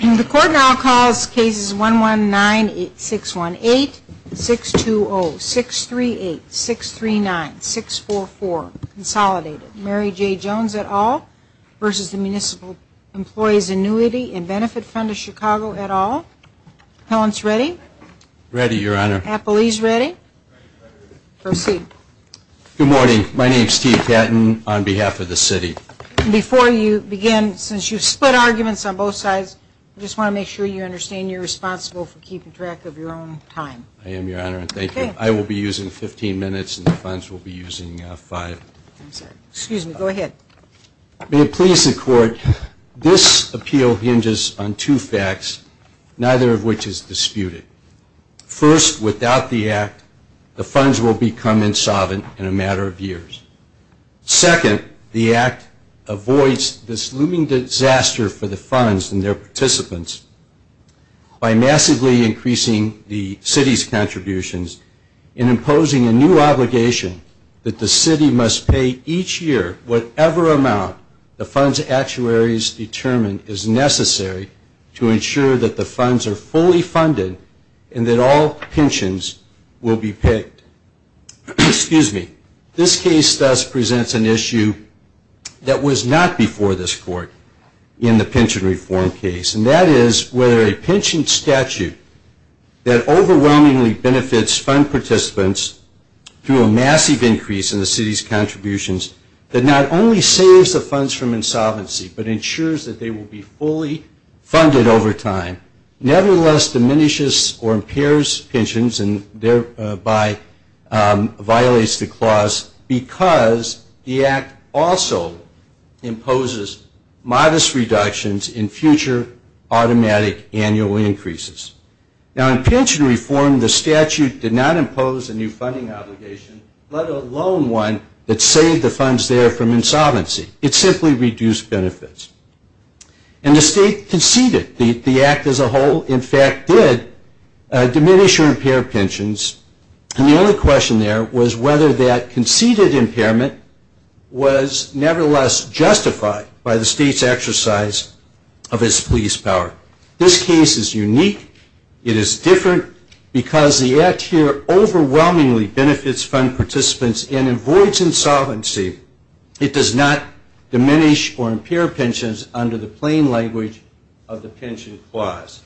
The Court now calls Cases 119-618, 620-638, 639-644, consolidated. Mary J. Jones et al. v. Municipal Employees' Annuity & Benefit Fund of Chicago et al. Appellants ready? Ready, Your Honor. Appellees ready? Ready, Your Honor. Proceed. Good morning. My name is T. Patton on behalf of the City. Before you begin, since you've split arguments on both sides, I just want to make sure you understand you're responsible for keeping track of your own time. I am, Your Honor, and thank you. I will be using 15 minutes and the funds will be using five. Excuse me. Go ahead. May it please the Court, this appeal hinges on two facts, neither of which is disputed. First, without the Act, the funds will become insolvent in a matter of years. Second, the Act avoids this looming disaster for the funds and their participants by massively increasing the City's contributions and imposing a new obligation that the City must pay each year whatever amount the fund's actuaries determine is necessary to ensure that the funds are fully funded and that all pensions will be paid. Excuse me. This case thus presents an issue that was not before this Court in the pension reform case, and that is whether a pension statute that overwhelmingly benefits fund participants through a massive increase in the City's contributions that not only saves the funds from insolvency but ensures that they will be fully funded over time, nevertheless diminishes or impairs pensions and thereby violates the clause because the Act also imposes modest reductions in future automatic annual increases. Now, in pension reform, the statute did not impose a new funding obligation, let alone one that saved the funds there from insolvency. It simply reduced benefits. And the State conceded. The Act as a whole, in fact, did diminish or impair pensions, and the only question there was whether that conceded impairment was nevertheless justified by the State's exercise of its police power. This case is unique. It is different because the Act here overwhelmingly benefits fund participants and avoids insolvency. It does not diminish or impair pensions under the plain language of the pension clause.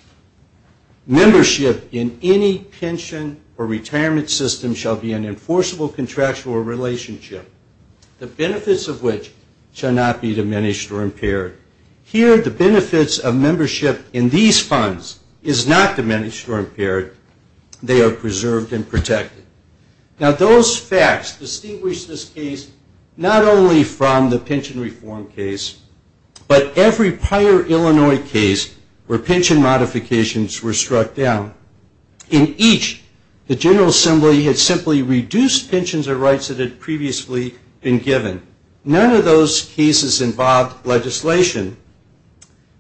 Membership in any pension or retirement system shall be an enforceable contractual relationship, the benefits of which shall not be diminished or impaired. Here, the benefits of membership in these funds is not diminished or impaired. They are preserved and protected. Now, those facts distinguish this case not only from the pension reform case, but every prior Illinois case where pension modifications were struck down. In each, the General Assembly had simply reduced pensions or rights that had previously been given. None of those cases involved legislation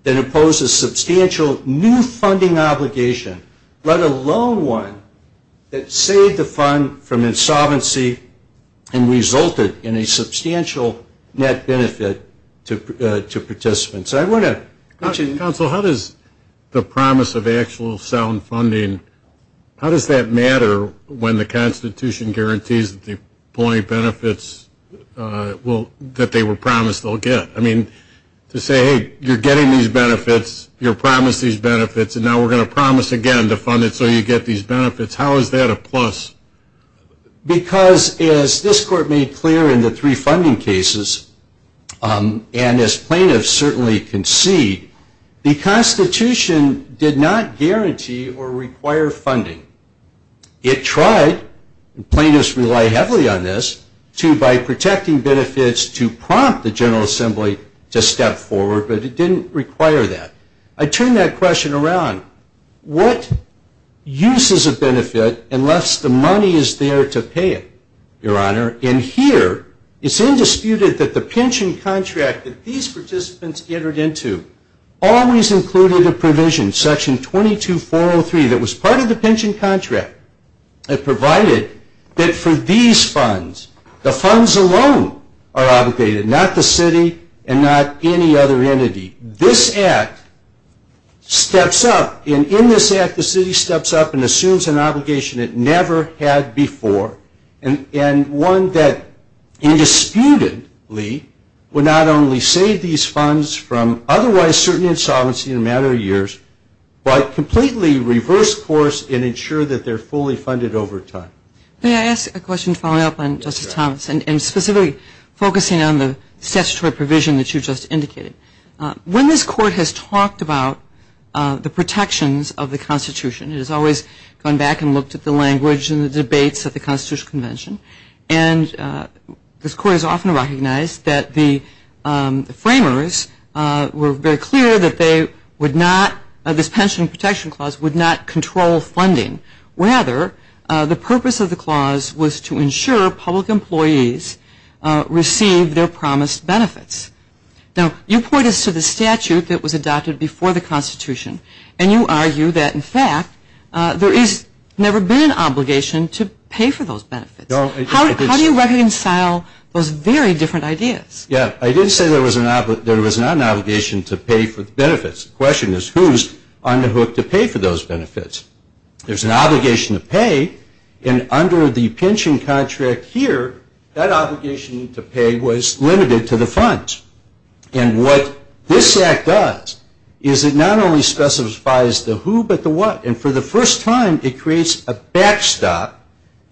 that imposes substantial new funding obligation, let alone one that saved the fund from insolvency and resulted in a substantial net benefit to participants. I want to mention- Counsel, how does the promise of actual sound funding, how does that matter when the Constitution guarantees that the employee benefits that they were promised they'll get? I mean, to say, hey, you're getting these benefits, you're promised these benefits, and now we're going to promise again to fund it so you get these benefits, how is that a plus? Because, as this Court made clear in the three funding cases, and as plaintiffs certainly concede, the Constitution did not guarantee or require funding. It tried, and plaintiffs rely heavily on this, to, by protecting benefits, to prompt the General Assembly to step forward, but it didn't require that. I turn that question around. What use is a benefit unless the money is there to pay it, Your Honor? And here, it's indisputed that the pension contract that these participants entered into always included a provision, Section 22403, that was part of the pension contract that provided that for these funds, the funds alone are obligated, not the city and not any other entity. This Act steps up, and in this Act, the city steps up and assumes an obligation it never had before, and one that indisputedly would not only save these funds from otherwise certain insolvency in a matter of years, but completely reverse course and ensure that they're fully funded over time. May I ask a question following up on Justice Thomas, and specifically focusing on the statutory provision that you just indicated. When this Court has talked about the protections of the Constitution, it has always gone back and looked at the language and the debates at the Constitutional Convention, and this Court has often recognized that the framers were very clear that they would not, this Pension Protection Clause would not control funding. Rather, the purpose of the clause was to ensure public employees receive their promised benefits. Now, you point us to the statute that was adopted before the Constitution, and you argue that, in fact, there has never been an obligation to pay for those benefits. How do you reconcile those very different ideas? Yeah, I did say there was not an obligation to pay for the benefits. The question is, who's on the hook to pay for those benefits? There's an obligation to pay, and under the pension contract here, that obligation to pay was limited to the funds. And what this Act does is it not only specifies the who but the what, and for the first time it creates a backstop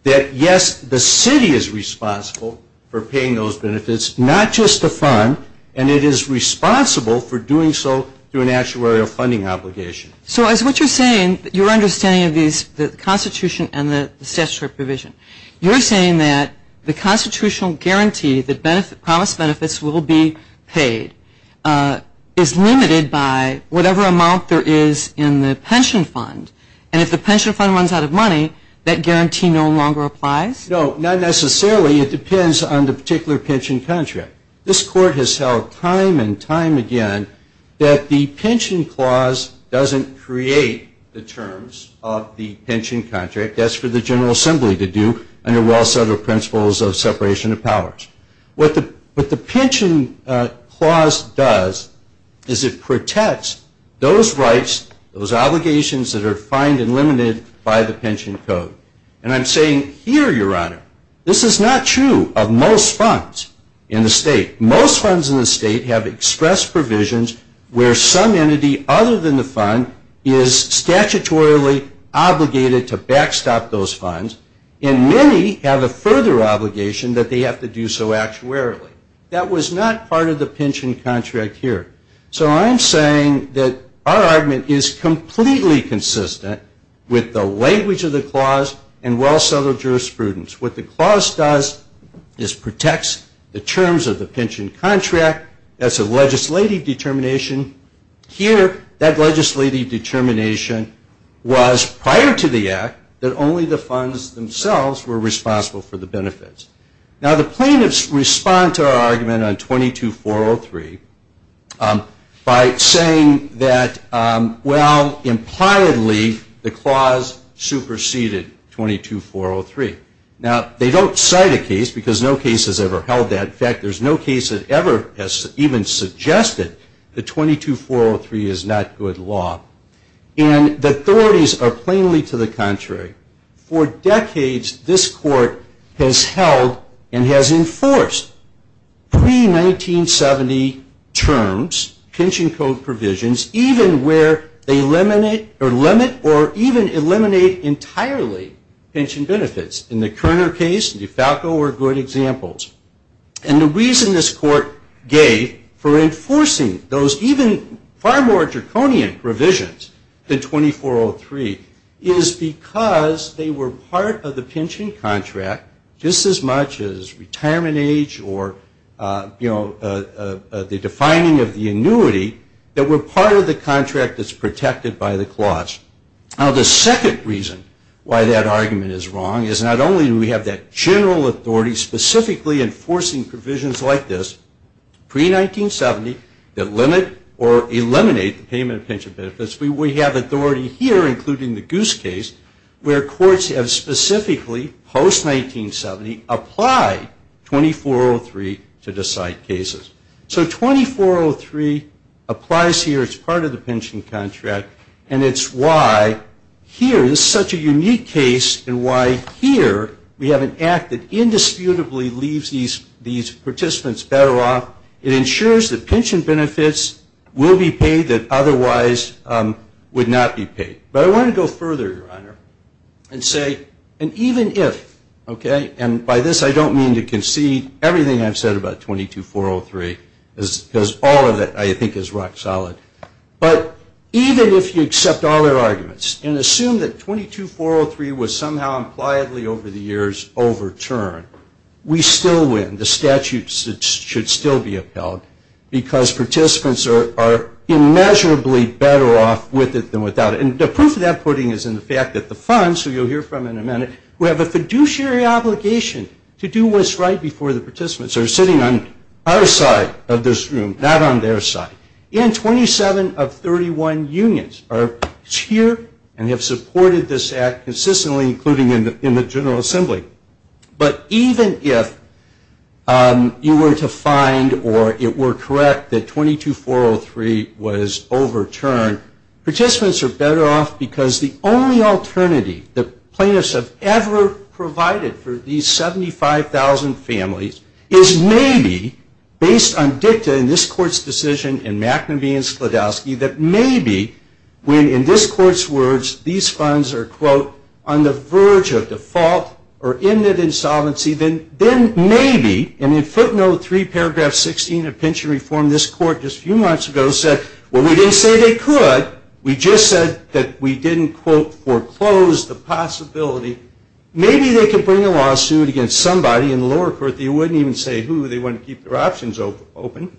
that, yes, the city is responsible for paying those benefits, not just the fund, and it is responsible for doing so through an actuarial funding obligation. So as what you're saying, your understanding of these, the Constitution and the statutory provision, you're saying that the constitutional guarantee that promised benefits will be paid is limited by whatever amount there is in the pension fund, and if the pension fund runs out of money, that guarantee no longer applies? No, not necessarily. It depends on the particular pension contract. This Court has held time and time again that the pension clause doesn't create the terms of the pension contract. That's for the General Assembly to do under well-settled principles of separation of powers. What the pension clause does is it protects those rights, those obligations that are fined and limited by the pension code. And I'm saying here, Your Honor, this is not true of most funds in the State. Most funds in the State have express provisions where some entity other than the fund is statutorily obligated to backstop those funds, and many have a further obligation that they have to do so actuarially. That was not part of the pension contract here. So I'm saying that our argument is completely consistent with the language of the clause and well-settled jurisprudence. What the clause does is protects the terms of the pension contract. That's a legislative determination. Here, that legislative determination was prior to the Act that only the funds themselves were responsible for the benefits. Now, the plaintiffs respond to our argument on 22403 by saying that, well, impliedly the clause superseded 22403. Now, they don't cite a case because no case has ever held that. In fact, there's no case that ever has even suggested that 22403 is not good law. For decades, this Court has held and has enforced pre-1970 terms, pension code provisions, even where they limit or even eliminate entirely pension benefits. In the Kerner case, DeFalco were good examples. And the reason this Court gave for enforcing those even far more draconian provisions than 2403 is because they were part of the pension contract just as much as retirement age or, you know, the defining of the annuity that were part of the contract that's protected by the clause. Now, the second reason why that argument is wrong is not only do we have that general authority specifically enforcing provisions like this pre-1970 that limit or eliminate the payment of pension benefits. We have authority here, including the Goose case, where courts have specifically, post-1970, applied 2403 to decide cases. So 2403 applies here. It's part of the pension contract. And it's why here this is such a unique case and why here we have an act that indisputably leaves these participants better off. It ensures that pension benefits will be paid that otherwise would not be paid. But I want to go further, Your Honor, and say, and even if, okay, and by this I don't mean to concede everything I've said about 22403 because all of it I think is rock solid. But even if you accept all their arguments and assume that 22403 was somehow impliedly over the years overturned, we still win. The statute should still be upheld because participants are immeasurably better off with it than without it. And the proof of that putting is in the fact that the funds, who you'll hear from in a minute, who have a fiduciary obligation to do what's right before the participants, are sitting on our side of this room, not on their side. And 27 of 31 unions are here and have supported this act consistently, including in the General Assembly. But even if you were to find or it were correct that 22403 was overturned, participants are better off because the only alternative the plaintiffs have ever provided for these 75,000 families is maybe, based on dicta in this Court's decision in McNabee and Sklodowski, that maybe when, in this Court's words, these funds are, quote, on the verge of default or end of insolvency, then maybe, and in footnote 3 paragraph 16 of pension reform this Court just a few months ago said, well, we didn't say they could. We just said that we didn't, quote, foreclose the possibility. Maybe they could bring a lawsuit against somebody in the lower court that you wouldn't even say who. They want to keep their options open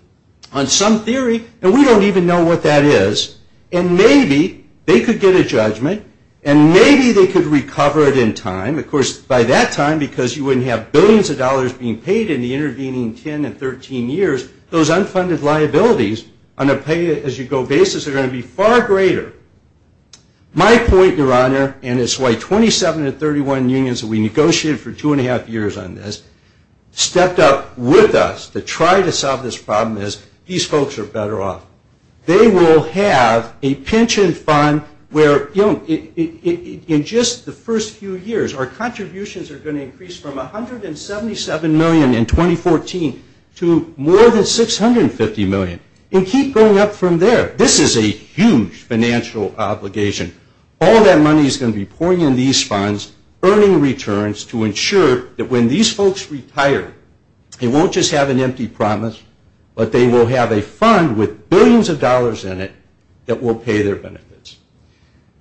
on some theory. And we don't even know what that is. And maybe they could get a judgment. And maybe they could recover it in time. Of course, by that time, because you wouldn't have billions of dollars being paid in the intervening 10 and 13 years, those unfunded liabilities on a pay-as-you-go basis are going to be far greater. My point, Your Honor, and it's why 27 of 31 unions that we negotiated for two and a half years on this stepped up with us to try to solve this problem is these folks are better off. They will have a pension fund where, you know, in just the first few years, our contributions are going to increase from $177 million in 2014 to more than $650 million and keep going up from there. This is a huge financial obligation. All that money is going to be pouring in these funds, earning returns to ensure that when these folks retire, they won't just have an empty promise, but they will have a fund with billions of dollars in it that will pay their benefits.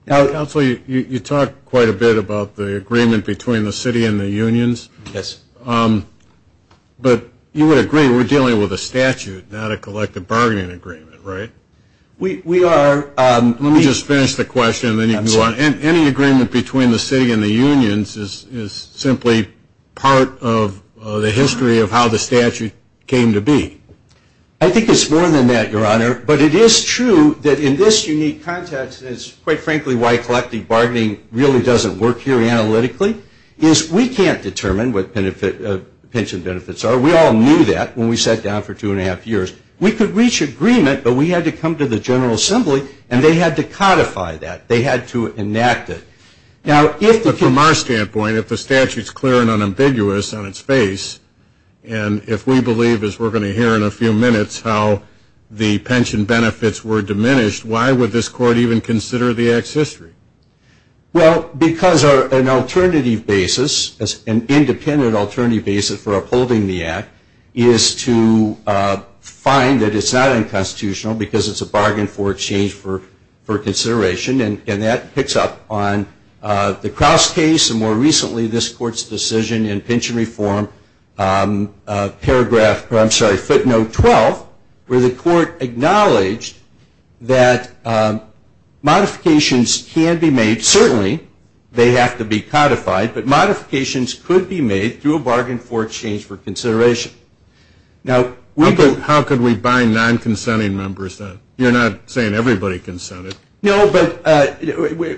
Now, Counselor, you talk quite a bit about the agreement between the city and the unions. Yes. But you would agree we're dealing with a statute, not a collective bargaining agreement, right? We are. Let me just finish the question and then you can go on. Any agreement between the city and the unions is simply part of the history of how the statute came to be. I think it's more than that, Your Honor, but it is true that in this unique context, and it's quite frankly why collective bargaining really doesn't work here analytically, is we can't determine what pension benefits are. We all knew that when we sat down for two and a half years. We could reach agreement, but we had to come to the General Assembly, and they had to codify that. They had to enact it. But from our standpoint, if the statute is clear and unambiguous on its face, and if we believe, as we're going to hear in a few minutes, how the pension benefits were diminished, why would this Court even consider the Act's history? Well, because an alternative basis, an independent alternative basis for upholding the Act, is to find that it's not unconstitutional because it's a bargain for exchange for consideration, and that picks up on the Crouse case and more recently this Court's decision in Pension Reform footnote 12, where the Court acknowledged that modifications can be made. Certainly, they have to be codified, but modifications could be made through a bargain for exchange for consideration. How could we bind non-consenting members then? You're not saying everybody consented. No, but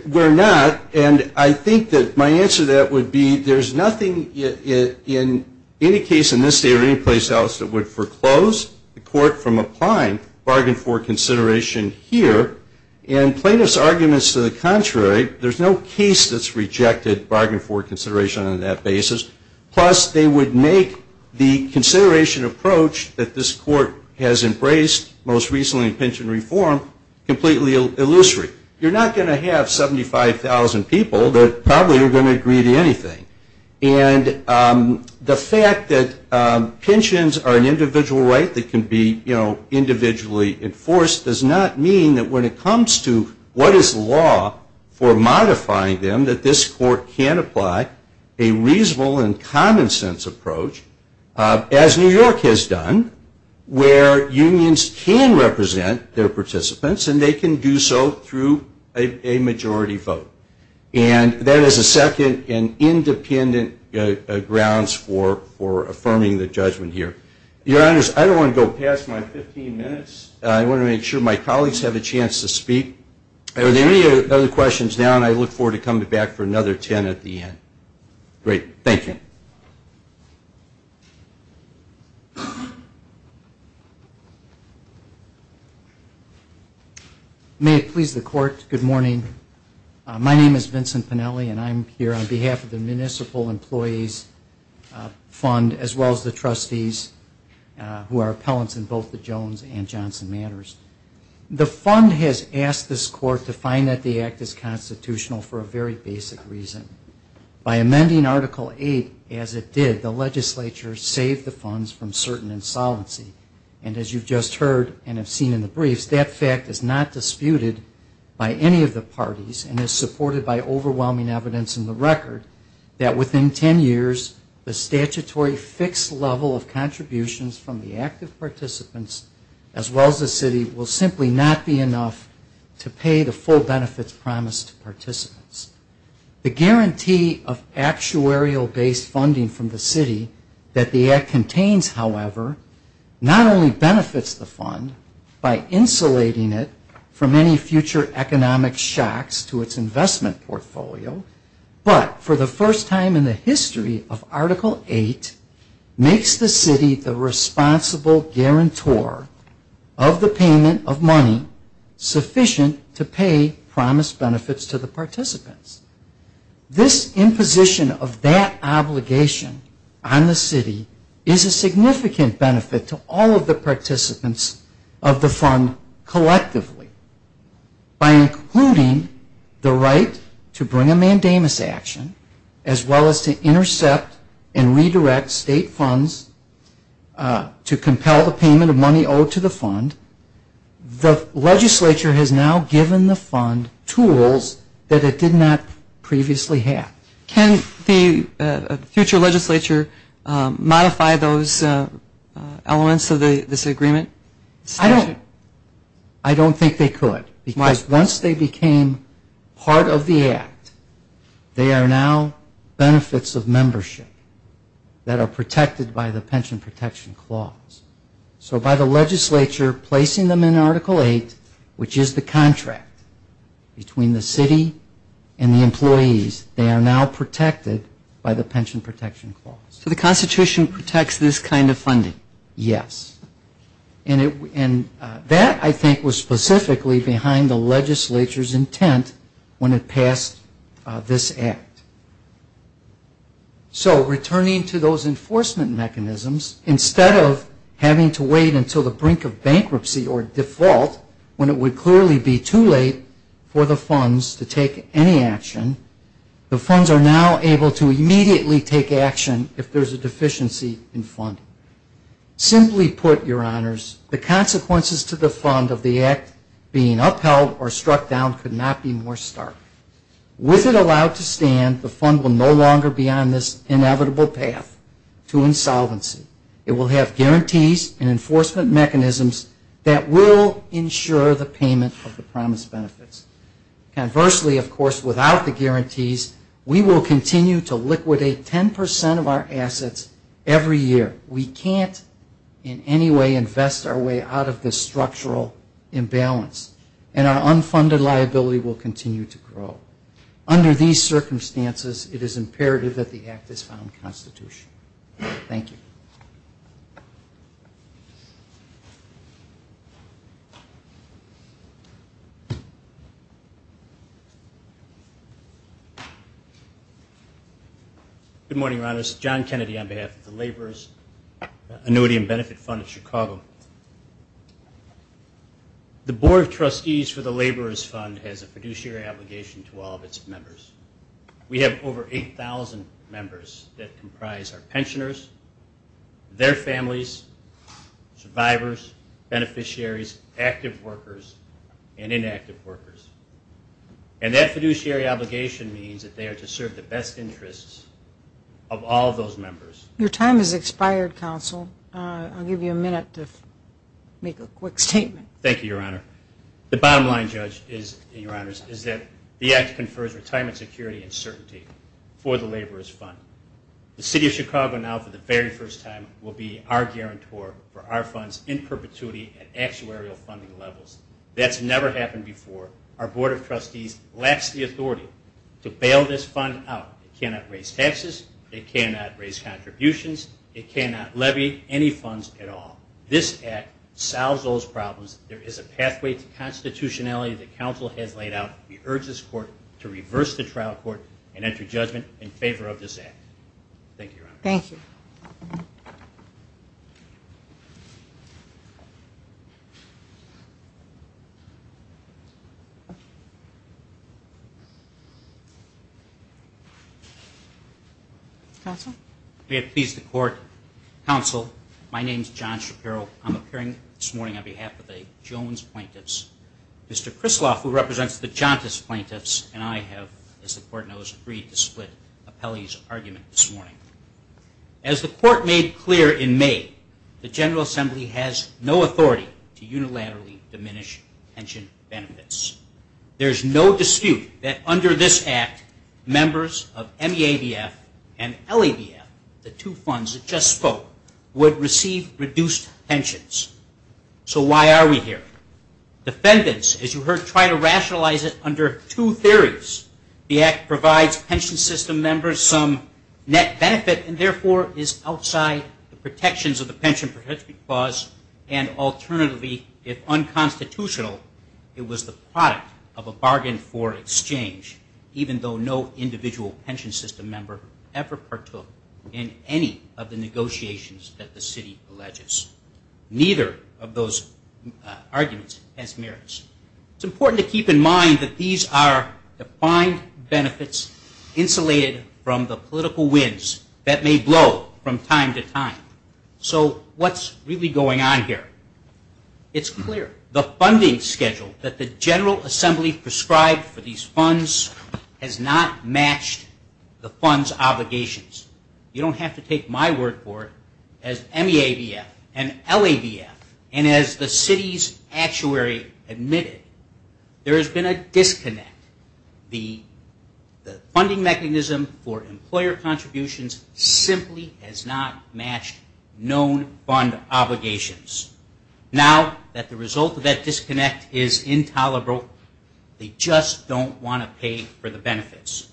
we're not, and I think that my answer to that would be there's nothing in any case in this state or any place else that would foreclose the Court from applying bargain for consideration here, and plaintiff's argument is to the contrary. There's no case that's rejected bargain for consideration on that basis, plus they would make the consideration approach that this Court has embraced most recently in Pension Reform completely illusory. You're not going to have 75,000 people that probably are going to agree to anything, and the fact that pensions are an individual right that can be individually enforced does not mean that when it comes to what is law for modifying them that this Court can apply a reasonable and common sense approach, as New York has done, where unions can represent their participants and they can do so through a majority vote. And that is a second and independent grounds for affirming the judgment here. Your Honors, I don't want to go past my 15 minutes. I want to make sure my colleagues have a chance to speak. Are there any other questions now? And I look forward to coming back for another 10 at the end. Great. Thank you. May it please the Court, good morning. My name is Vincent Pennelly, and I'm here on behalf of the Municipal Employees Fund, as well as the trustees who are appellants in both the Jones and Johnson matters. The fund has asked this Court to find that the act is constitutional for a very basic reason. By amending Article 8 as it did, the legislature saved the funds from certain insolency. And as you've just heard and have seen in the briefs, that fact is not disputed by any of the parties and is supported by overwhelming evidence in the record that within 10 years, the statutory fixed level of contributions from the active participants, as well as the city, will simply not be enough to pay the full benefits promised to participants. The guarantee of actuarial-based funding from the city that the act contains, however, not only benefits the fund by insulating it from any future economic shocks to its investment portfolio, but for the first time in the history of Article 8, makes the city the responsible guarantor of the payment of money sufficient to pay promised benefits to the participants. This imposition of that obligation on the city is a significant benefit to all of the participants of the fund collectively. By including the right to bring a mandamus action, as well as to intercept and redirect state funds to compel the payment of money owed to the fund, the legislature has now given the fund tools that it did not previously have. Can the future legislature modify those elements of this agreement? I don't think they could. Once they became part of the act, they are now benefits of membership that are protected by the Pension Protection Clause. So by the legislature placing them in Article 8, which is the contract between the city and the employees, they are now protected by the Pension Protection Clause. So the Constitution protects this kind of funding? Yes. And that, I think, was specifically behind the legislature's intent when it passed this act. So returning to those enforcement mechanisms, instead of having to wait until the brink of bankruptcy or default, when it would clearly be too late for the funds to take any action, the funds are now able to immediately take action if there is a deficiency in funding. Simply put, Your Honors, the consequences to the fund of the act being upheld or struck down could not be more stark. With it allowed to stand, the fund will no longer be on this inevitable path to insolvency. It will have guarantees and enforcement mechanisms that will ensure the payment of the promised benefits. Conversely, of course, without the guarantees, we will continue to liquidate 10 percent of our assets every year. We can't in any way invest our way out of this structural imbalance, and our unfunded liability will continue to grow. Under these circumstances, it is imperative that the act is found constitutional. Thank you. Good morning, Your Honors. John Kennedy on behalf of the Laborers Annuity and Benefit Fund of Chicago. We have over 8,000 members that comprise our pensioners, their families, survivors, beneficiaries, active workers, and inactive workers. And that fiduciary obligation means that they are to serve the best interests of all of those members. Your time has expired, Counsel. I'll give you a minute to make a quick statement. Thank you, Your Honor. The bottom line, Judge, is that the act confers retirement security and certainty for the Laborers Fund. The City of Chicago now, for the very first time, will be our guarantor for our funds in perpetuity at actuarial funding levels. That's never happened before. Our Board of Trustees lacks the authority to bail this fund out. It cannot raise taxes, it cannot raise contributions, it cannot levy any funds at all. This act solves those problems. There is a pathway to constitutionality that Counsel has laid out. We urge this Court to reverse the trial court and enter judgment in favor of this act. Thank you, Your Honor. Counsel? May it please the Court. Counsel, my name is John Shapiro. I'm appearing this morning on behalf of the Jones plaintiffs. Mr. Krisloff, who represents the Jauntus plaintiffs, and I have, as the Court knows, agreed to split Appellee's argument this morning. As the Court made clear in May, the General Assembly has no authority to unilaterally diminish pension benefits. There is no dispute that under this act, members of MEADF and LADF, the two funds that just spoke, would receive reduced pensions. So why are we here? Defendants, as you heard, try to rationalize it under two theories. The act provides pension system members some net benefit and therefore is outside the protections of the pension protection clause, and alternatively, if unconstitutional, it was the product of a bargain for exchange, even though no individual pension system member ever partook in any of the negotiations that the city alleges. Neither of those arguments has merits. It's important to keep in mind that these are defined benefits insulated from the political winds that may blow from time to time. So what's really going on here? It's clear. The funding schedule that the General Assembly prescribed for these funds has not matched the funds' obligations. You don't have to take my word for it. As MEADF and LADF, and as the city's actuary admitted, there has been a disconnect. The funding mechanism for employer contributions simply has not matched known fund obligations. Now that the result of that disconnect is intolerable, they just don't want to pay for the benefits.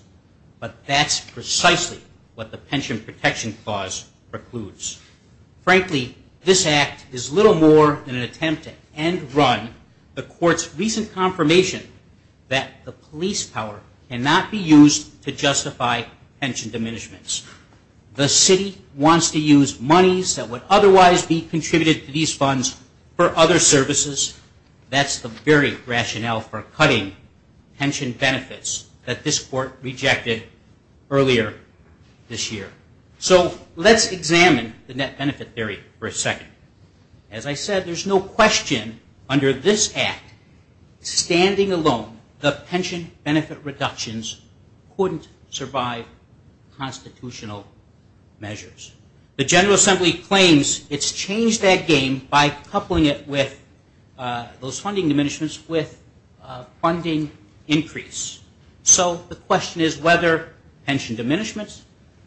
But that's precisely what the pension protection clause precludes. Frankly, this act is little more than an attempt to end run the court's recent confirmation that the pension protection clause lease power cannot be used to justify pension diminishments. The city wants to use monies that would otherwise be contributed to these funds for other services. That's the very rationale for cutting pension benefits that this court rejected earlier this year. So let's examine the net benefit theory for a second. As I said, there's no question under this act, standing alone, the pension benefit reductions couldn't survive constitutional measures. The General Assembly claims it's changed that game by coupling it with those funding diminishments with funding increase. So the question is whether pension diminishments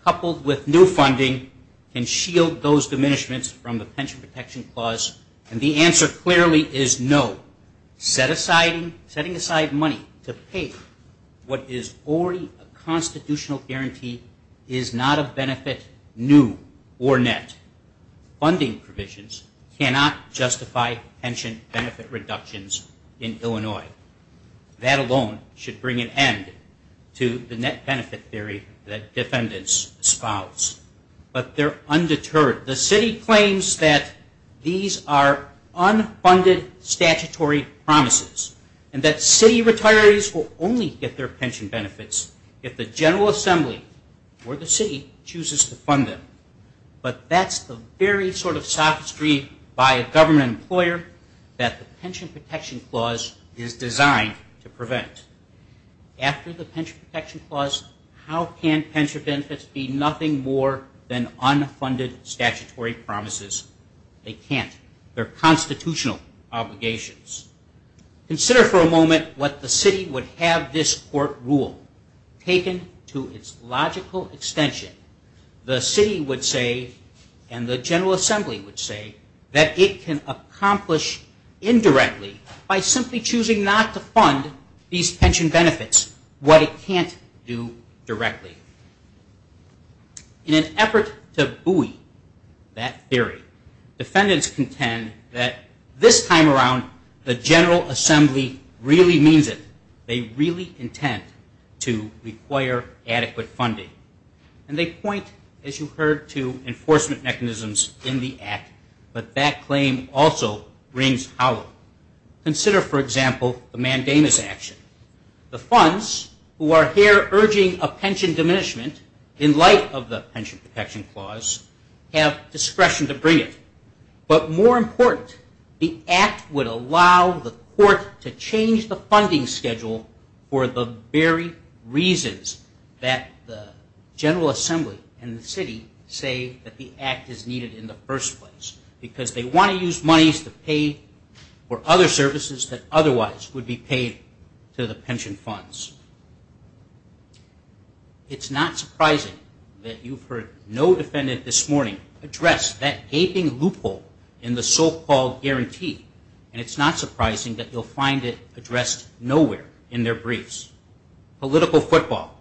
coupled with new funding can shield those benefits. Setting aside money to pay what is already a constitutional guarantee is not a benefit new or net. Funding provisions cannot justify pension benefit reductions in Illinois. That alone should bring an end to the net benefit theory that defendants espouse. But they're undeterred. The city claims that these are unfunded statutory promises and that city retirees will only get their pension benefits if the General Assembly or the city chooses to fund them. But that's the very sort of sophistry by a government employer that the pension protection clause is designed to prevent. After the pension protection clause, how can pension benefits be nothing more than unfunded statutory promises? They can't. They're constitutional obligations. Consider for a moment what the city would have this court rule taken to its logical extension. The city would say and the General Assembly would say that it can accomplish indirectly by simply choosing not to fund these pension benefits, what it can't do directly. In an effort to buoy that theory, defendants contend that this time around the General Assembly really means it. They really intend to require adequate funding. And they point, as you heard, to enforcement mechanisms in the act, but that claim also rings hollow. Consider, for example, the Mandamus action. The funds who are here urging a pension diminishment in light of the pension protection clause have discretion to bring it. But more important, the act would allow the court to change the funding schedule for the pension protection clause. For the very reasons that the General Assembly and the city say that the act is needed in the first place. Because they want to use monies to pay for other services that otherwise would be paid to the pension funds. It's not surprising that you've heard no defendant this morning address that gaping loophole in the so-called guarantee. And it's not surprising that you'll find it addressed nowhere in their briefs. Political football,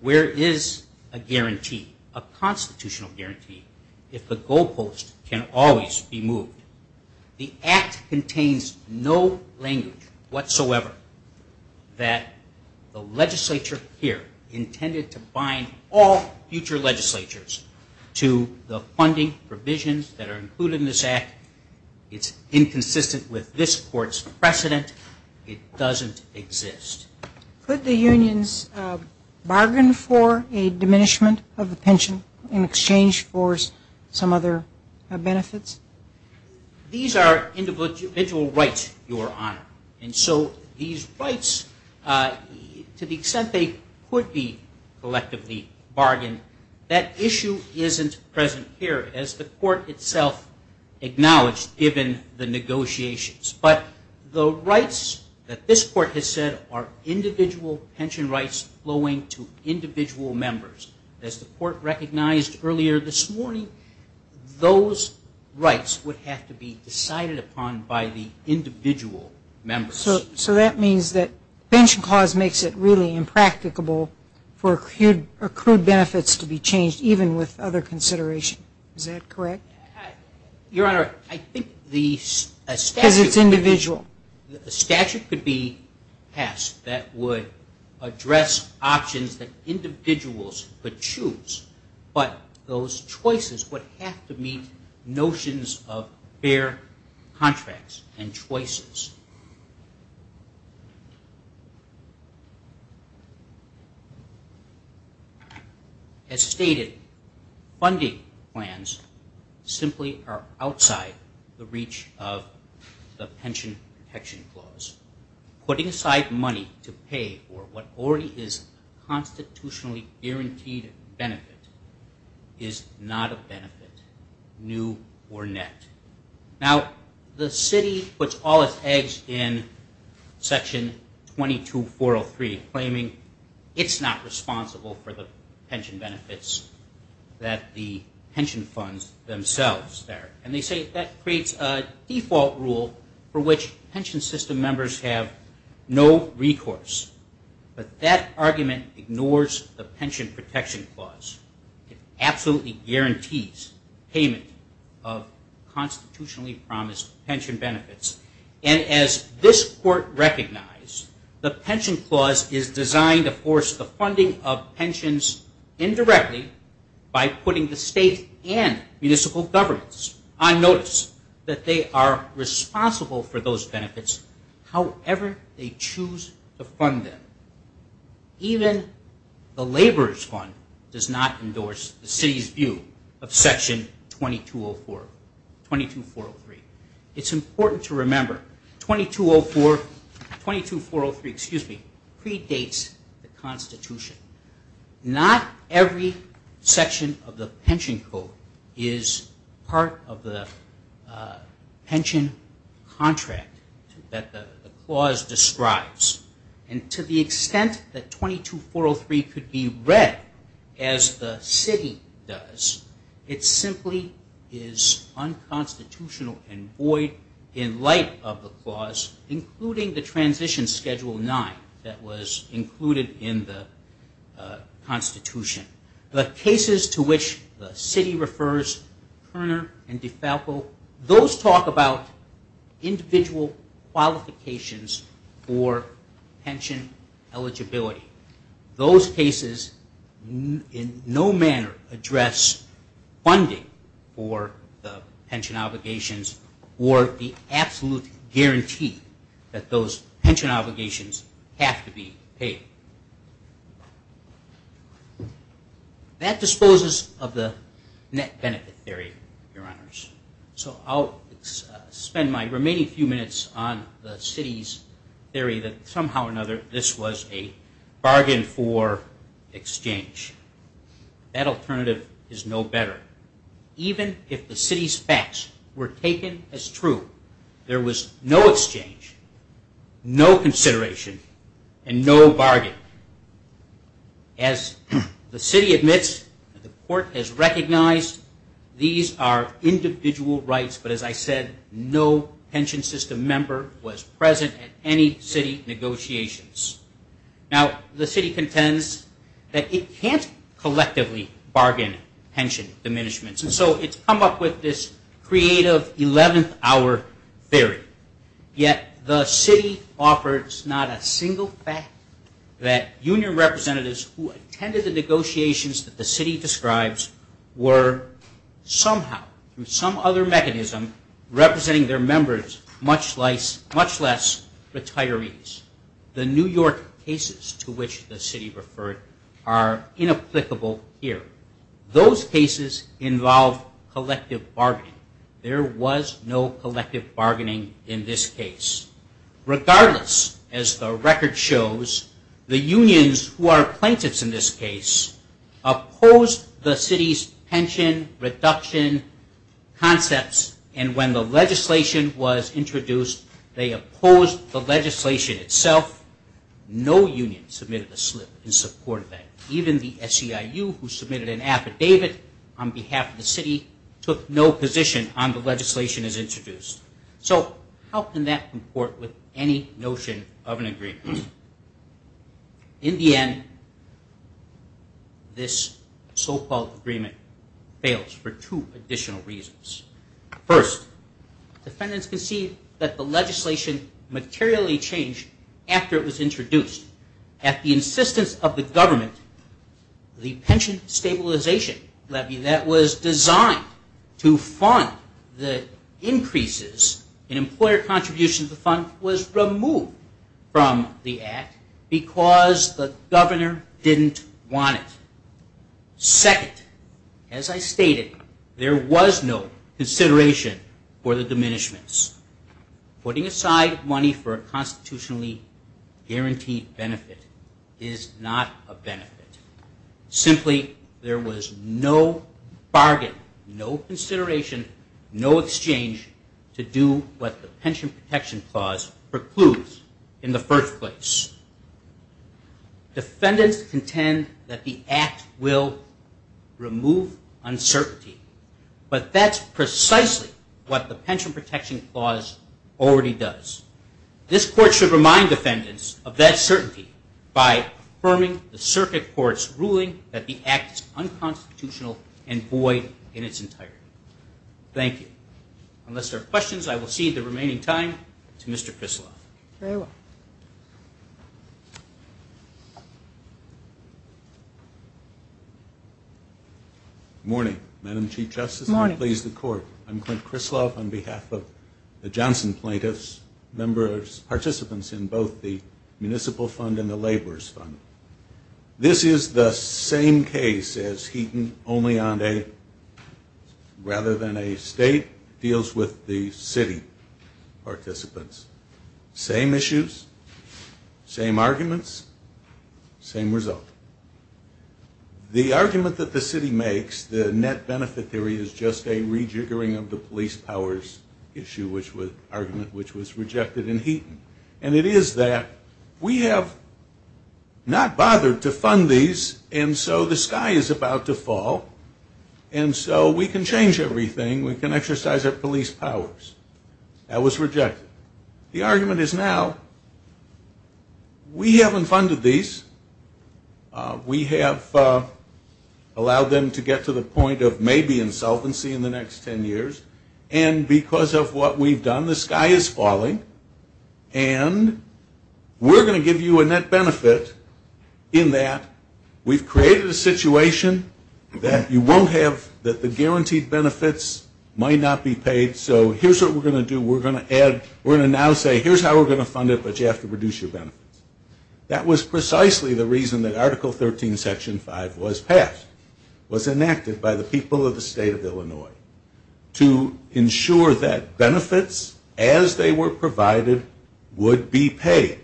where is a guarantee, a constitutional guarantee, if the goalpost can always be moved? The act contains no language whatsoever that the legislature here intended to bind all future legislatures to the funding provisions that are included in this act. It's inconsistent with this court's precedent. It doesn't exist. Could the unions bargain for a diminishment of the pension in exchange for some other benefits? These are individual rights, Your Honor, and so these rights, to the extent they could be collectively bargained, that issue isn't present here. As the court itself acknowledged, given the negotiations. But the rights that this court has said are individual pension rights flowing to individual members. As the court recognized earlier this morning, those rights would have to be decided upon by the individual members. So that means that pension clause makes it really impracticable for accrued benefits to be changed, even with other consideration. Is that correct? The statute could be passed that would address options that individuals could choose, but those choices would have to meet notions of fair contracts and choices. As stated, funding plans simply are outside the reach of the pension protection clause. Putting aside money to pay for what already is a constitutionally guaranteed benefit is not a benefit, new or net. Now, the city puts all its eggs in section 22403, claiming it's not responsible for the pension benefits that the pension funds themselves there. And they say that creates a default rule for which pension system members have no recourse. But that argument ignores the pension protection clause. It absolutely guarantees payment of constitutionally promised pension benefits. And as this court recognized, the pension clause is designed to force the funding of pensions indirectly by putting the state and municipal governments on notice that they are responsible for those benefits, however they choose to fund them. Even the laborers fund does not endorse the city's view of section 22403. It's important to remember 22403 predates the constitution. Not every section of the pension code is part of the pension contract that the clause describes. And to the extent that 22403 could be read as the city does, it simply is unconstitutional and void in light of the clause, including the transition schedule 9 that was included in the constitution. The cases to which the city refers, Kerner and DeFalco, those talk about individual qualifications for pension benefits. Those cases in no manner address funding for the pension obligations or the absolute guarantee that those pension obligations have to be paid. That disposes of the net benefit theory, Your Honors. So I'll spend my remaining few minutes on the city's theory that somehow or another this was a bargain for exchange. That alternative is no better. Even if the city's facts were taken as true, there was no exchange, no consideration, and no bargain. As the city admits, the court has recognized, these are individual benefits. These are individual rights, but as I said, no pension system member was present at any city negotiations. Now, the city contends that it can't collectively bargain pension diminishments. And so it's come up with this creative 11th hour theory. Yet the city offers not a single fact that union representatives who attended the negotiations that the city describes were somehow, through some other mechanism, representing their members, much less retirees. The New York cases to which the city referred are inapplicable here. Those cases involve collective bargaining. There was no collective bargaining in this case. Regardless, as the record shows, the unions who are plaintiffs in this case opposed the city's pension reduction concepts. And when the legislation was introduced, they opposed the legislation itself. No union submitted a slip in support of that. Even the SEIU who submitted an affidavit on behalf of the city took no position on the legislation as introduced. So how can that comport with any notion of an agreement? In the end, this so-called agreement fails for two additional reasons. First, defendants concede that the legislation materially changed after it was introduced at the insistence of the government. The pension stabilization levy that was designed to fund the increases in employer contributions to the fund was removed from the act because the governor didn't want it. Second, as I stated, there was no consideration for the diminishments. Putting aside money for a constitutionally guaranteed benefit is not a benefit. Simply, there was no bargain, no consideration, no exchange to do what the pension protection clause precludes in the first place. Defendants contend that the act will remove uncertainty. But that's precisely what the pension protection clause already does. This court should remind defendants of that certainty by affirming the circuit court's ruling that the act is unconstitutional and void in its entirety. Thank you. Unless there are questions, I will cede the remaining time to Mr. Krisloff. Good morning, Madam Chief Justice, and please the court. I'm Clint Krisloff on behalf of the Johnson plaintiffs, participants in both the Municipal Fund and the Laborers Fund. This is the same case as Heaton, only on a, rather than a state, federal basis. It deals with the city participants. Same issues, same arguments, same result. The argument that the city makes, the net benefit theory, is just a rejiggering of the police powers argument, which was rejected in Heaton. And it is that we have not bothered to fund these, and so the sky is about to fall, and so we can change everything. We can exercise our police powers. That was rejected. The argument is now, we haven't funded these, we have allowed them to get to the point of maybe insolvency in the next ten years, and because of what we've done, the sky is falling, and we're going to give you a net benefit in that we've created a situation that you won't have, that the guaranteed benefits are not guaranteed. Might not be paid, so here's what we're going to do, we're going to add, we're going to now say, here's how we're going to fund it, but you have to reduce your benefits. That was precisely the reason that Article 13, Section 5 was passed, was enacted by the people of the state of Illinois, to ensure that benefits, as they were provided, would be paid.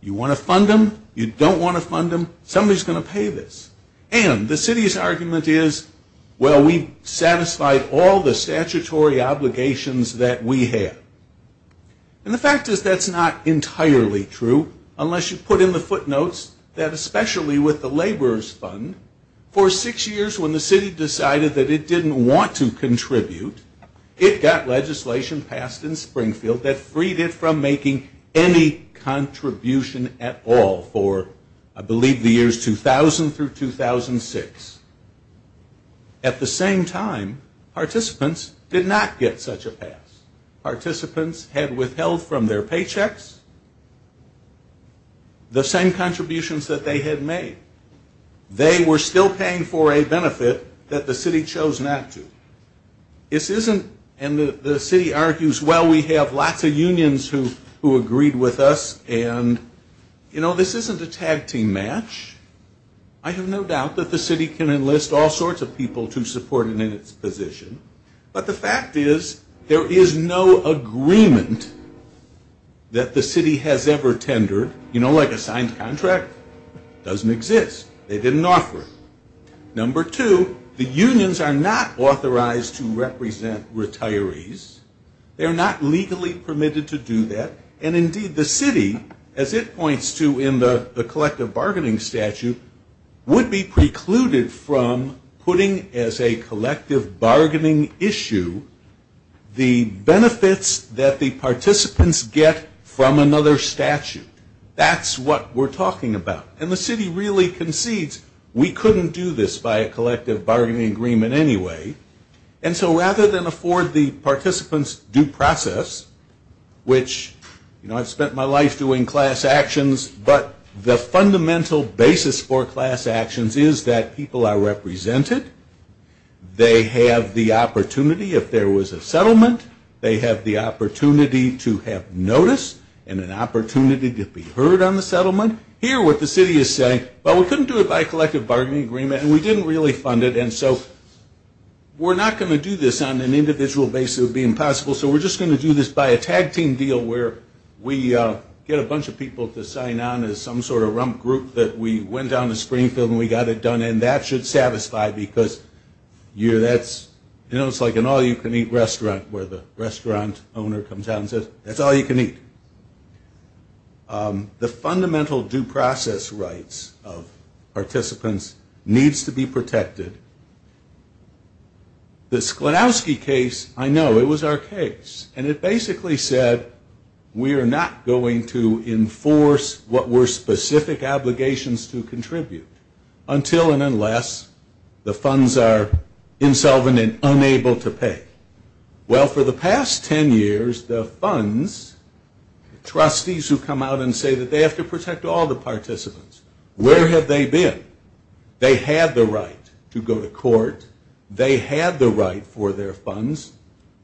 You want to fund them, you don't want to fund them, somebody's going to pay this. And the city's argument is, well, we've satisfied all the statutory obligations that we have. And the fact is that's not entirely true, unless you put in the footnotes that especially with the laborers fund, for six years when the city decided that it didn't want to contribute, it got legislation passed in Springfield that freed it from making any contribution at all for, I believe, the years 2000 through 2000. And that was passed in 2006. At the same time, participants did not get such a pass. Participants had withheld from their paychecks the same contributions that they had made. They were still paying for a benefit that the city chose not to. This isn't, and the city argues, well, we have lots of unions who agreed with us, and, you know, this isn't a tag team match. I have no doubt that the city can enlist all sorts of people to support it in its position. But the fact is, there is no agreement that the city has ever tendered, you know, like a signed contract, doesn't exist. They didn't offer it. Number two, the unions are not authorized to represent retirees. They're not legally permitted to do that. And, indeed, the city, as it points to in the collective bargaining statute, would be precluded from putting as a collective bargaining issue the benefits that the participants get from another statute. That's what we're talking about. And the city really concedes, we couldn't do this by a collective bargaining agreement anyway. And so rather than afford the participants due process, which, you know, I've spent my life doing class actions, but the fundamental basis for class actions is that people are represented. They have the opportunity, if there was a settlement, they have the opportunity to have notice and an opportunity to be heard on the settlement. Here, what the city is saying, well, we couldn't do it by a collective bargaining agreement, and we didn't really fund it. We're not going to do this on an individual basis. It would be impossible. So we're just going to do this by a tag team deal where we get a bunch of people to sign on as some sort of rump group that we went down to Springfield and we got it done, and that should satisfy because, you know, it's like an all-you-can-eat restaurant where the restaurant owner comes out and says, that's all you can eat. The fundamental due process rights of participants needs to be protected. The Sklodowsky case, I know, it was our case, and it basically said we are not going to enforce what were specific obligations to contribute until and unless the funds are insolvent and unable to pay. Well, for the past 10 years, the funds, trustees who come out and say that they have to protect all the participants, where have they been? They had the right to go to court. They had the right for their funds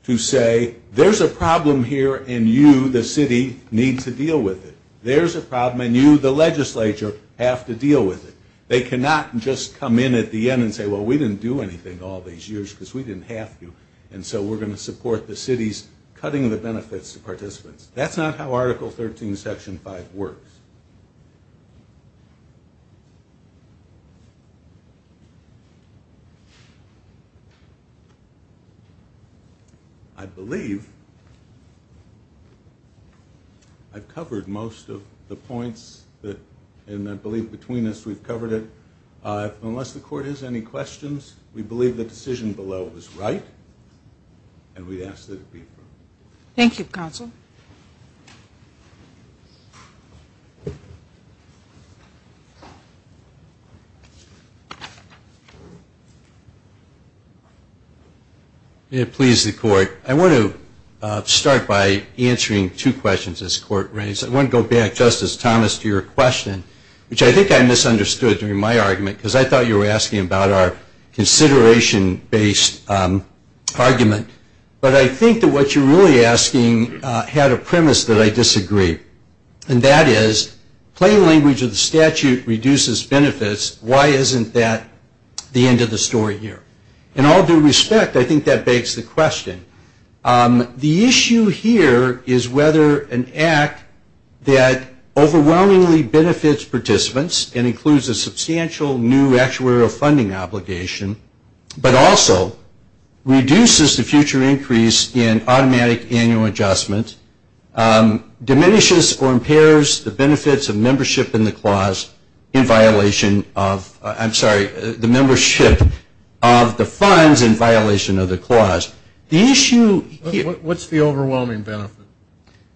to say, there's a problem here and you, the city, need to deal with it. There's a problem and you, the legislature, have to deal with it. They cannot just come in at the end and say, well, we didn't do anything all these years because we didn't have to, and so we're going to support the city's cutting the benefits to participants. That's not how Article 13, Section 5 works. I believe I've covered most of the points, and I believe between us we've covered it. Unless the court has any questions, we believe the decision below was right and we ask that it be approved. Thank you, counsel. May it please the court. I want to start by answering two questions this court raised. I want to go back, Justice Thomas, to your question, which I think I misunderstood during my argument because I thought you were asking about our consideration-based argument. But I think that what you're really asking had a premise that I disagree, and that is, plain language of the statute reduces benefits, but I think that the question is, why isn't that the end of the story here? In all due respect, I think that begs the question. The issue here is whether an act that overwhelmingly benefits participants and includes a substantial new actuarial funding obligation, but also reduces the future increase in automatic annual adjustment, diminishes or impairs the benefits of the membership of the funds in violation of the clause. What's the overwhelming benefit?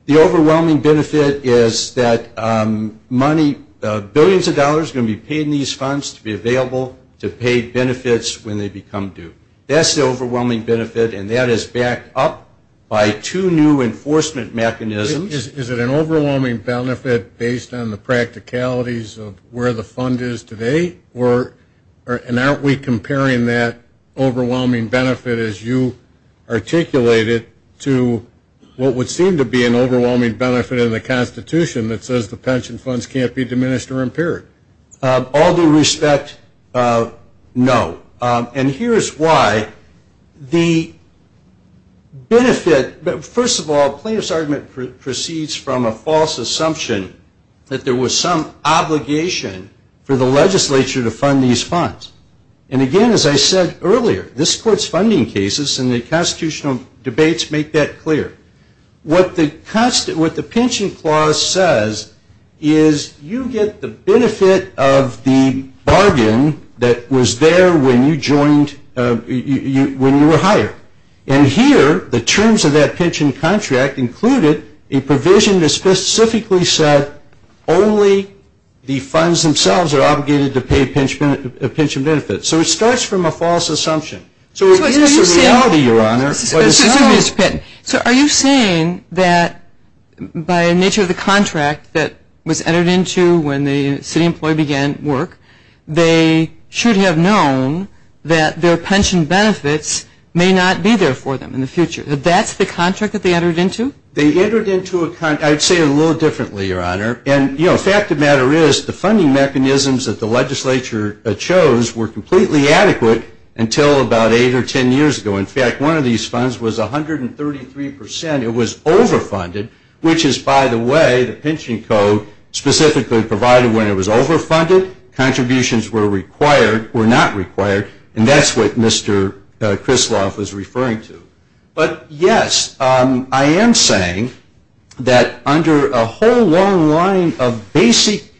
The overwhelming benefit is that billions of dollars are going to be paid in these funds to be available to pay benefits when they become due. That's the overwhelming benefit, and that is backed up by two new enforcement mechanisms. Is it an overwhelming benefit based on the practicalities of where the fund is today? And aren't we comparing that overwhelming benefit, as you articulated, to what would seem to be an overwhelming benefit in the Constitution that says the pension funds can't be diminished or impaired? All due respect, no. And here's why. The benefit-first of all, plaintiff's argument proceeds from a false assumption that there was some obligation for the legislature to fund these funds. And again, as I said earlier, this Court's funding cases and the constitutional debates make that clear. What the pension clause says is you get the benefit of the bargain that was there when you joined, when you were hired. And here, the terms of that pension contract included a provision that specifically said only the funds themselves are obligated to be funded to pay pension benefits. So it starts from a false assumption. So is this a reality, Your Honor? So are you saying that by nature of the contract that was entered into when the city employee began work, they should have known that their pension benefits may not be there for them in the future? That that's the contract that they entered into? They entered into a contract, I'd say it a little differently, Your Honor. And, you know, fact of the matter is, the funding mechanisms that the legislature chose were completely adequate until about eight or ten years ago. In fact, one of these funds was 133 percent, it was overfunded, which is, by the way, the pension code specifically provided when it was overfunded. Contributions were required, were not required, and that's what Mr. Krisloff was referring to. But, yes, I am saying that under a whole long line of basic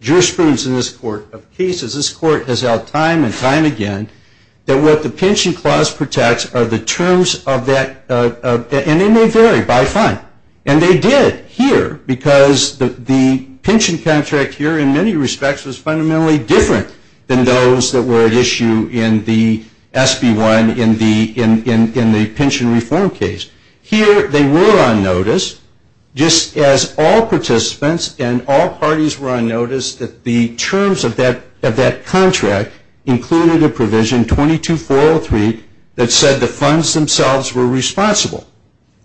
jurisprudence in this Court of cases, this Court has held time and time again that what the pension clause protects are the terms of that, and they may vary by fund. And they did here because the pension contract here, in many respects, was fundamentally different than those that were at issue in the SB1, in the SB2. Here, they were on notice, just as all participants and all parties were on notice that the terms of that contract included a provision 22403 that said the funds themselves were responsible,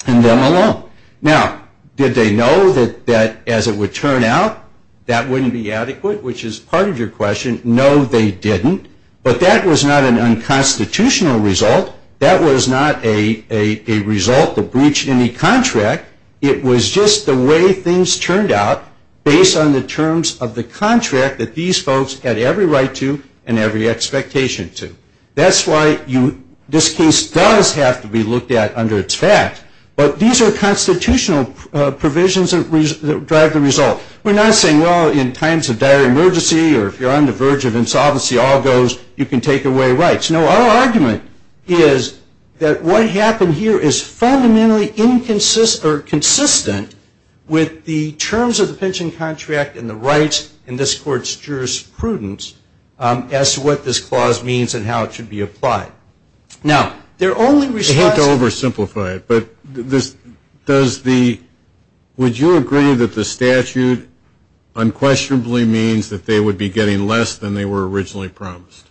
and them alone. Now, did they know that as it would turn out, that wouldn't be adequate, which is part of your question? No, they didn't. It was not a result of breach in the contract. It was just the way things turned out based on the terms of the contract that these folks had every right to and every expectation to. That's why this case does have to be looked at under its fact, but these are constitutional provisions that drive the result. We're not saying, well, in times of dire emergency or if you're on the verge of insolvency, all goes, you can take away rights. No, our argument is that what happened here is fundamentally inconsistent or consistent with the terms of the pension contract and the rights in this court's jurisprudence as to what this clause means and how it should be applied. Now, their only response to this. I hate to oversimplify it, but would you agree that the statute unquestionably means that they would be getting less than they were originally promised?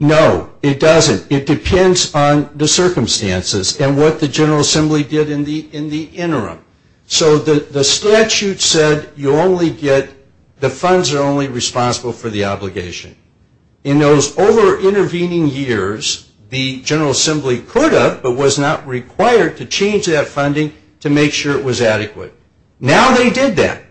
No, it doesn't. It depends on the circumstances and what the General Assembly did in the interim. So the statute said you only get, the funds are only responsible for the obligation. In those over-intervening years, the General Assembly could have, but was not required to change that funding to make sure it was adequate. Now they did that,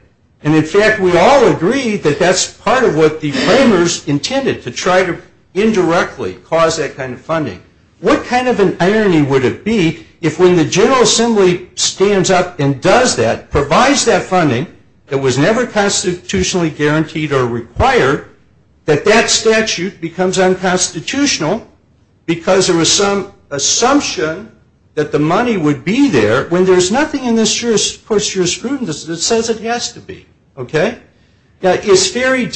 and in fact, we all agree that that's part of what the framers intended, to try to indirectly cause that kind of funding. What kind of an irony would it be if when the General Assembly stands up and does that, provides that funding that was never constitutionally guaranteed or required, that that statute becomes unconstitutional because there was some assumption that the money would be there when there's nothing in this jurisprudence that would make it unconstitutional. It says it has to be. Are you saying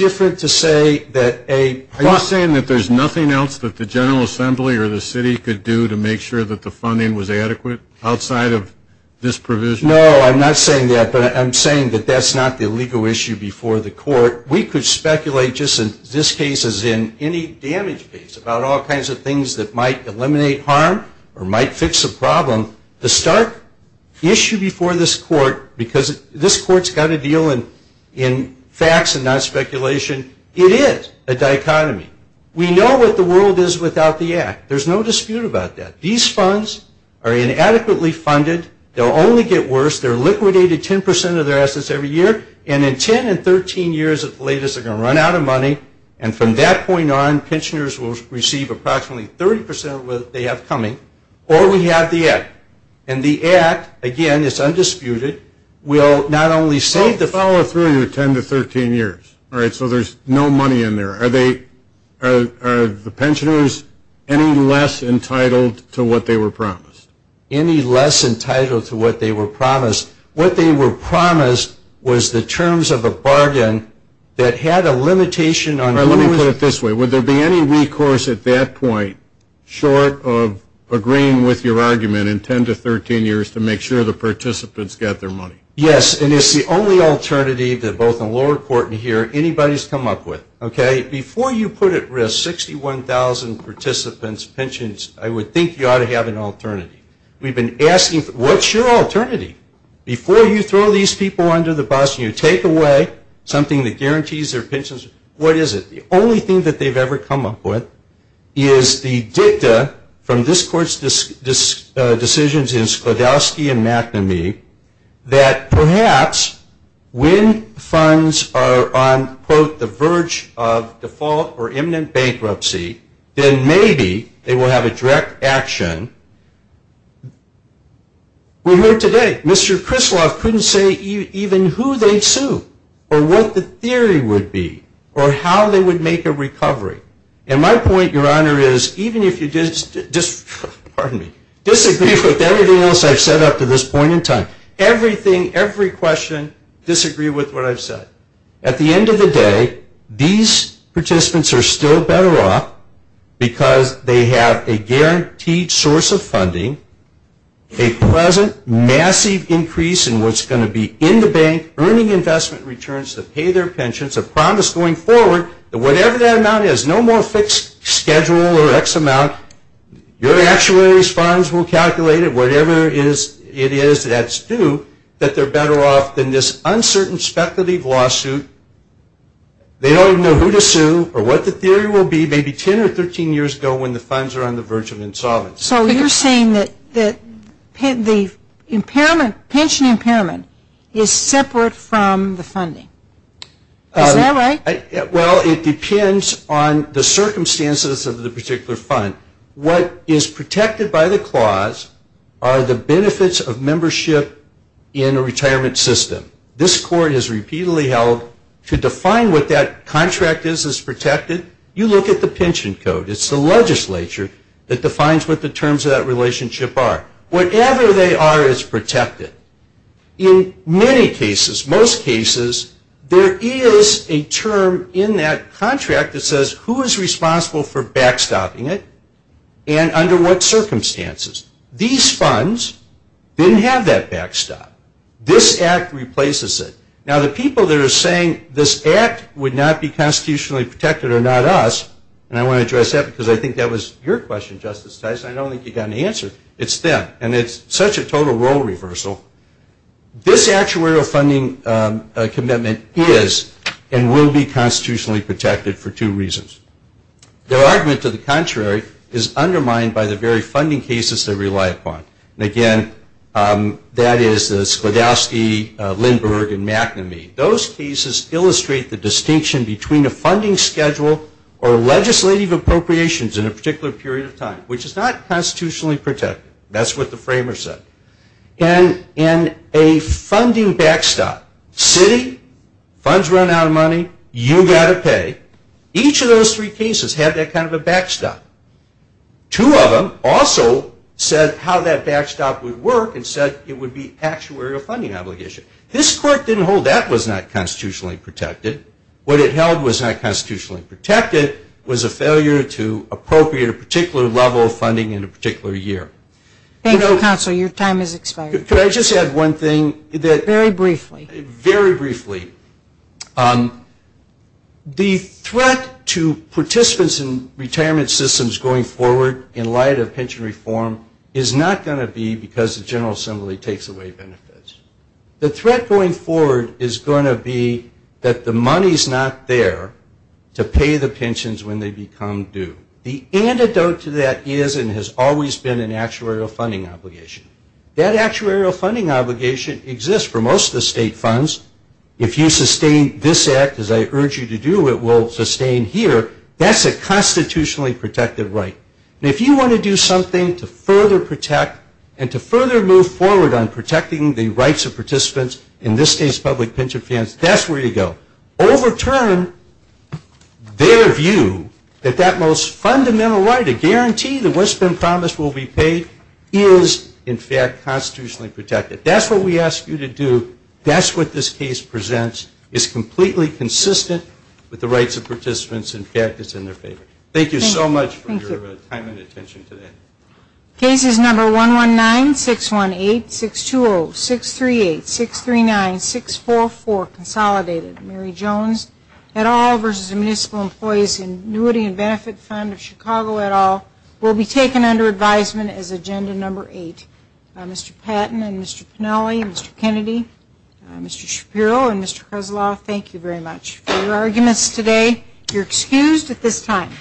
that there's nothing else that the General Assembly or the city could do to make sure that the funding was adequate outside of this provision? No, I'm not saying that, but I'm saying that that's not the legal issue before the court. We could speculate just in this case as in any damage case about all kinds of things that might eliminate harm or might fix a problem. The stark issue before this court, because this court's got a deal in facts and not speculation, it is a dichotomy. We know what the world is without the Act. There's no dispute about that. These funds are inadequately funded. They'll only get worse. They're liquidated 10% of their assets every year, and in 10 and 13 years at the latest they're going to run out of money, and from that point on pensioners will receive approximately 30% of what they have coming, or we have the Act. And the Act, again, it's undisputed, will not only save the funds. So to follow through, 10 to 13 years, so there's no money in there. Are the pensioners any less entitled to what they were promised? What they were promised was the terms of a bargain that had a limitation on who was... Let me put it this way. Would there be any recourse at that point short of agreeing with your argument in 10 to 13 years to make sure the participants get their money? Yes, and it's the only alternative that both in lower court and here anybody's come up with. Before you put at risk 61,000 participants' pensions, I would think you ought to have an alternative. We've been asking, what's your alternative? Before you throw these people under the bus and you take away something that guarantees their pensions, what is it? The only thing that they've ever come up with is the dicta from this Court's decisions in Sklodowski and McNamee that perhaps when funds are on, quote, the verge of default or imminent bankruptcy, then maybe they will have a direct action to make sure that they get their money. We heard today, Mr. Krislav couldn't say even who they'd sue or what the theory would be or how they would make a recovery. And my point, Your Honor, is even if you disagree with everything else I've said up to this point in time, everything, every question, disagree with what I've said. At the end of the day, these participants are still better off because they have a guaranteed source of funding, a pleasant, massive increase in what's going to be in the bank, earning investment returns to pay their pensions, a promise going forward that whatever that amount is, no more fixed schedule or X amount, your actuary's funds will calculate it, whatever it is that's due, that they're better off than this uncertain speculative lawsuit. They don't even know who to sue or what the theory will be maybe 10 or 13 years ago when the funds are on the verge of insolvency. So you're saying that the pension impairment is separate from the funding. Is that right? Well, it depends on the circumstances of the particular fund. What is protected by the clause are the benefits of membership in a retirement system. This court has repeatedly held to define what that contract is as protected, you look at the pension code, it's the legislature that defines what the terms of that relationship are. Whatever they are is protected. In many cases, most cases, there is a term in that contract that says who is responsible for backstopping it and under what circumstances. These funds didn't have that backstop, this act replaces it. Now the people that are saying this act would not be constitutionally protected are not us, and I want to address that because I think that was your question, Justice Tyson, I don't think you got an answer, it's them, and it's such a total role reversal. This actuarial funding commitment is and will be constitutionally protected for two reasons. Their argument to the contrary is undermined by the very funding cases they rely upon. And again, that is the Sklodowsky, Lindberg, and McNamee. Those cases illustrate the distinction between a funding schedule or legislative appropriations in a particular period of time, which is not constitutionally protected. That's what the framers said. And in a funding backstop, city, funds run out of money, you got to pay, each of those three cases had that kind of a backstop. Two of them also said how that backstop would work and said it would be actuarial funding obligation. This court didn't hold that was not constitutionally protected. What it held was not constitutionally protected was a failure to appropriate a particular level of funding in a particular year. Thank you, counsel, your time has expired. Very briefly, the threat to participants in retirement systems going forward in light of pension reform is not going to be because the General Assembly takes away benefits. The threat going forward is going to be that the money is not there to pay the pensions when they become due. The antidote to that is and has always been an actuarial funding obligation. That actuarial funding obligation exists for most of the state funds. If you sustain this act as I urge you to do, it will sustain here, that's a constitutionally protected right. And if you want to do something to further protect and to further move forward on protecting the rights of participants in this state's public pension plans, that's where you go. Overturn their view that that most fundamental right, a guarantee that what's been promised will be paid, is in fact constitutionally protected. That's what we ask you to do, that's what this case presents, is completely consistent with the rights of participants, in fact it's in their favor. Thank you so much for your time and attention today. I'm pleased to announce that Mr. Patton and Mr. Pennelly, Mr. Kennedy, Mr. Shapiro, and Mr. Kozloff, thank you very much for your arguments today. You're excused at this time.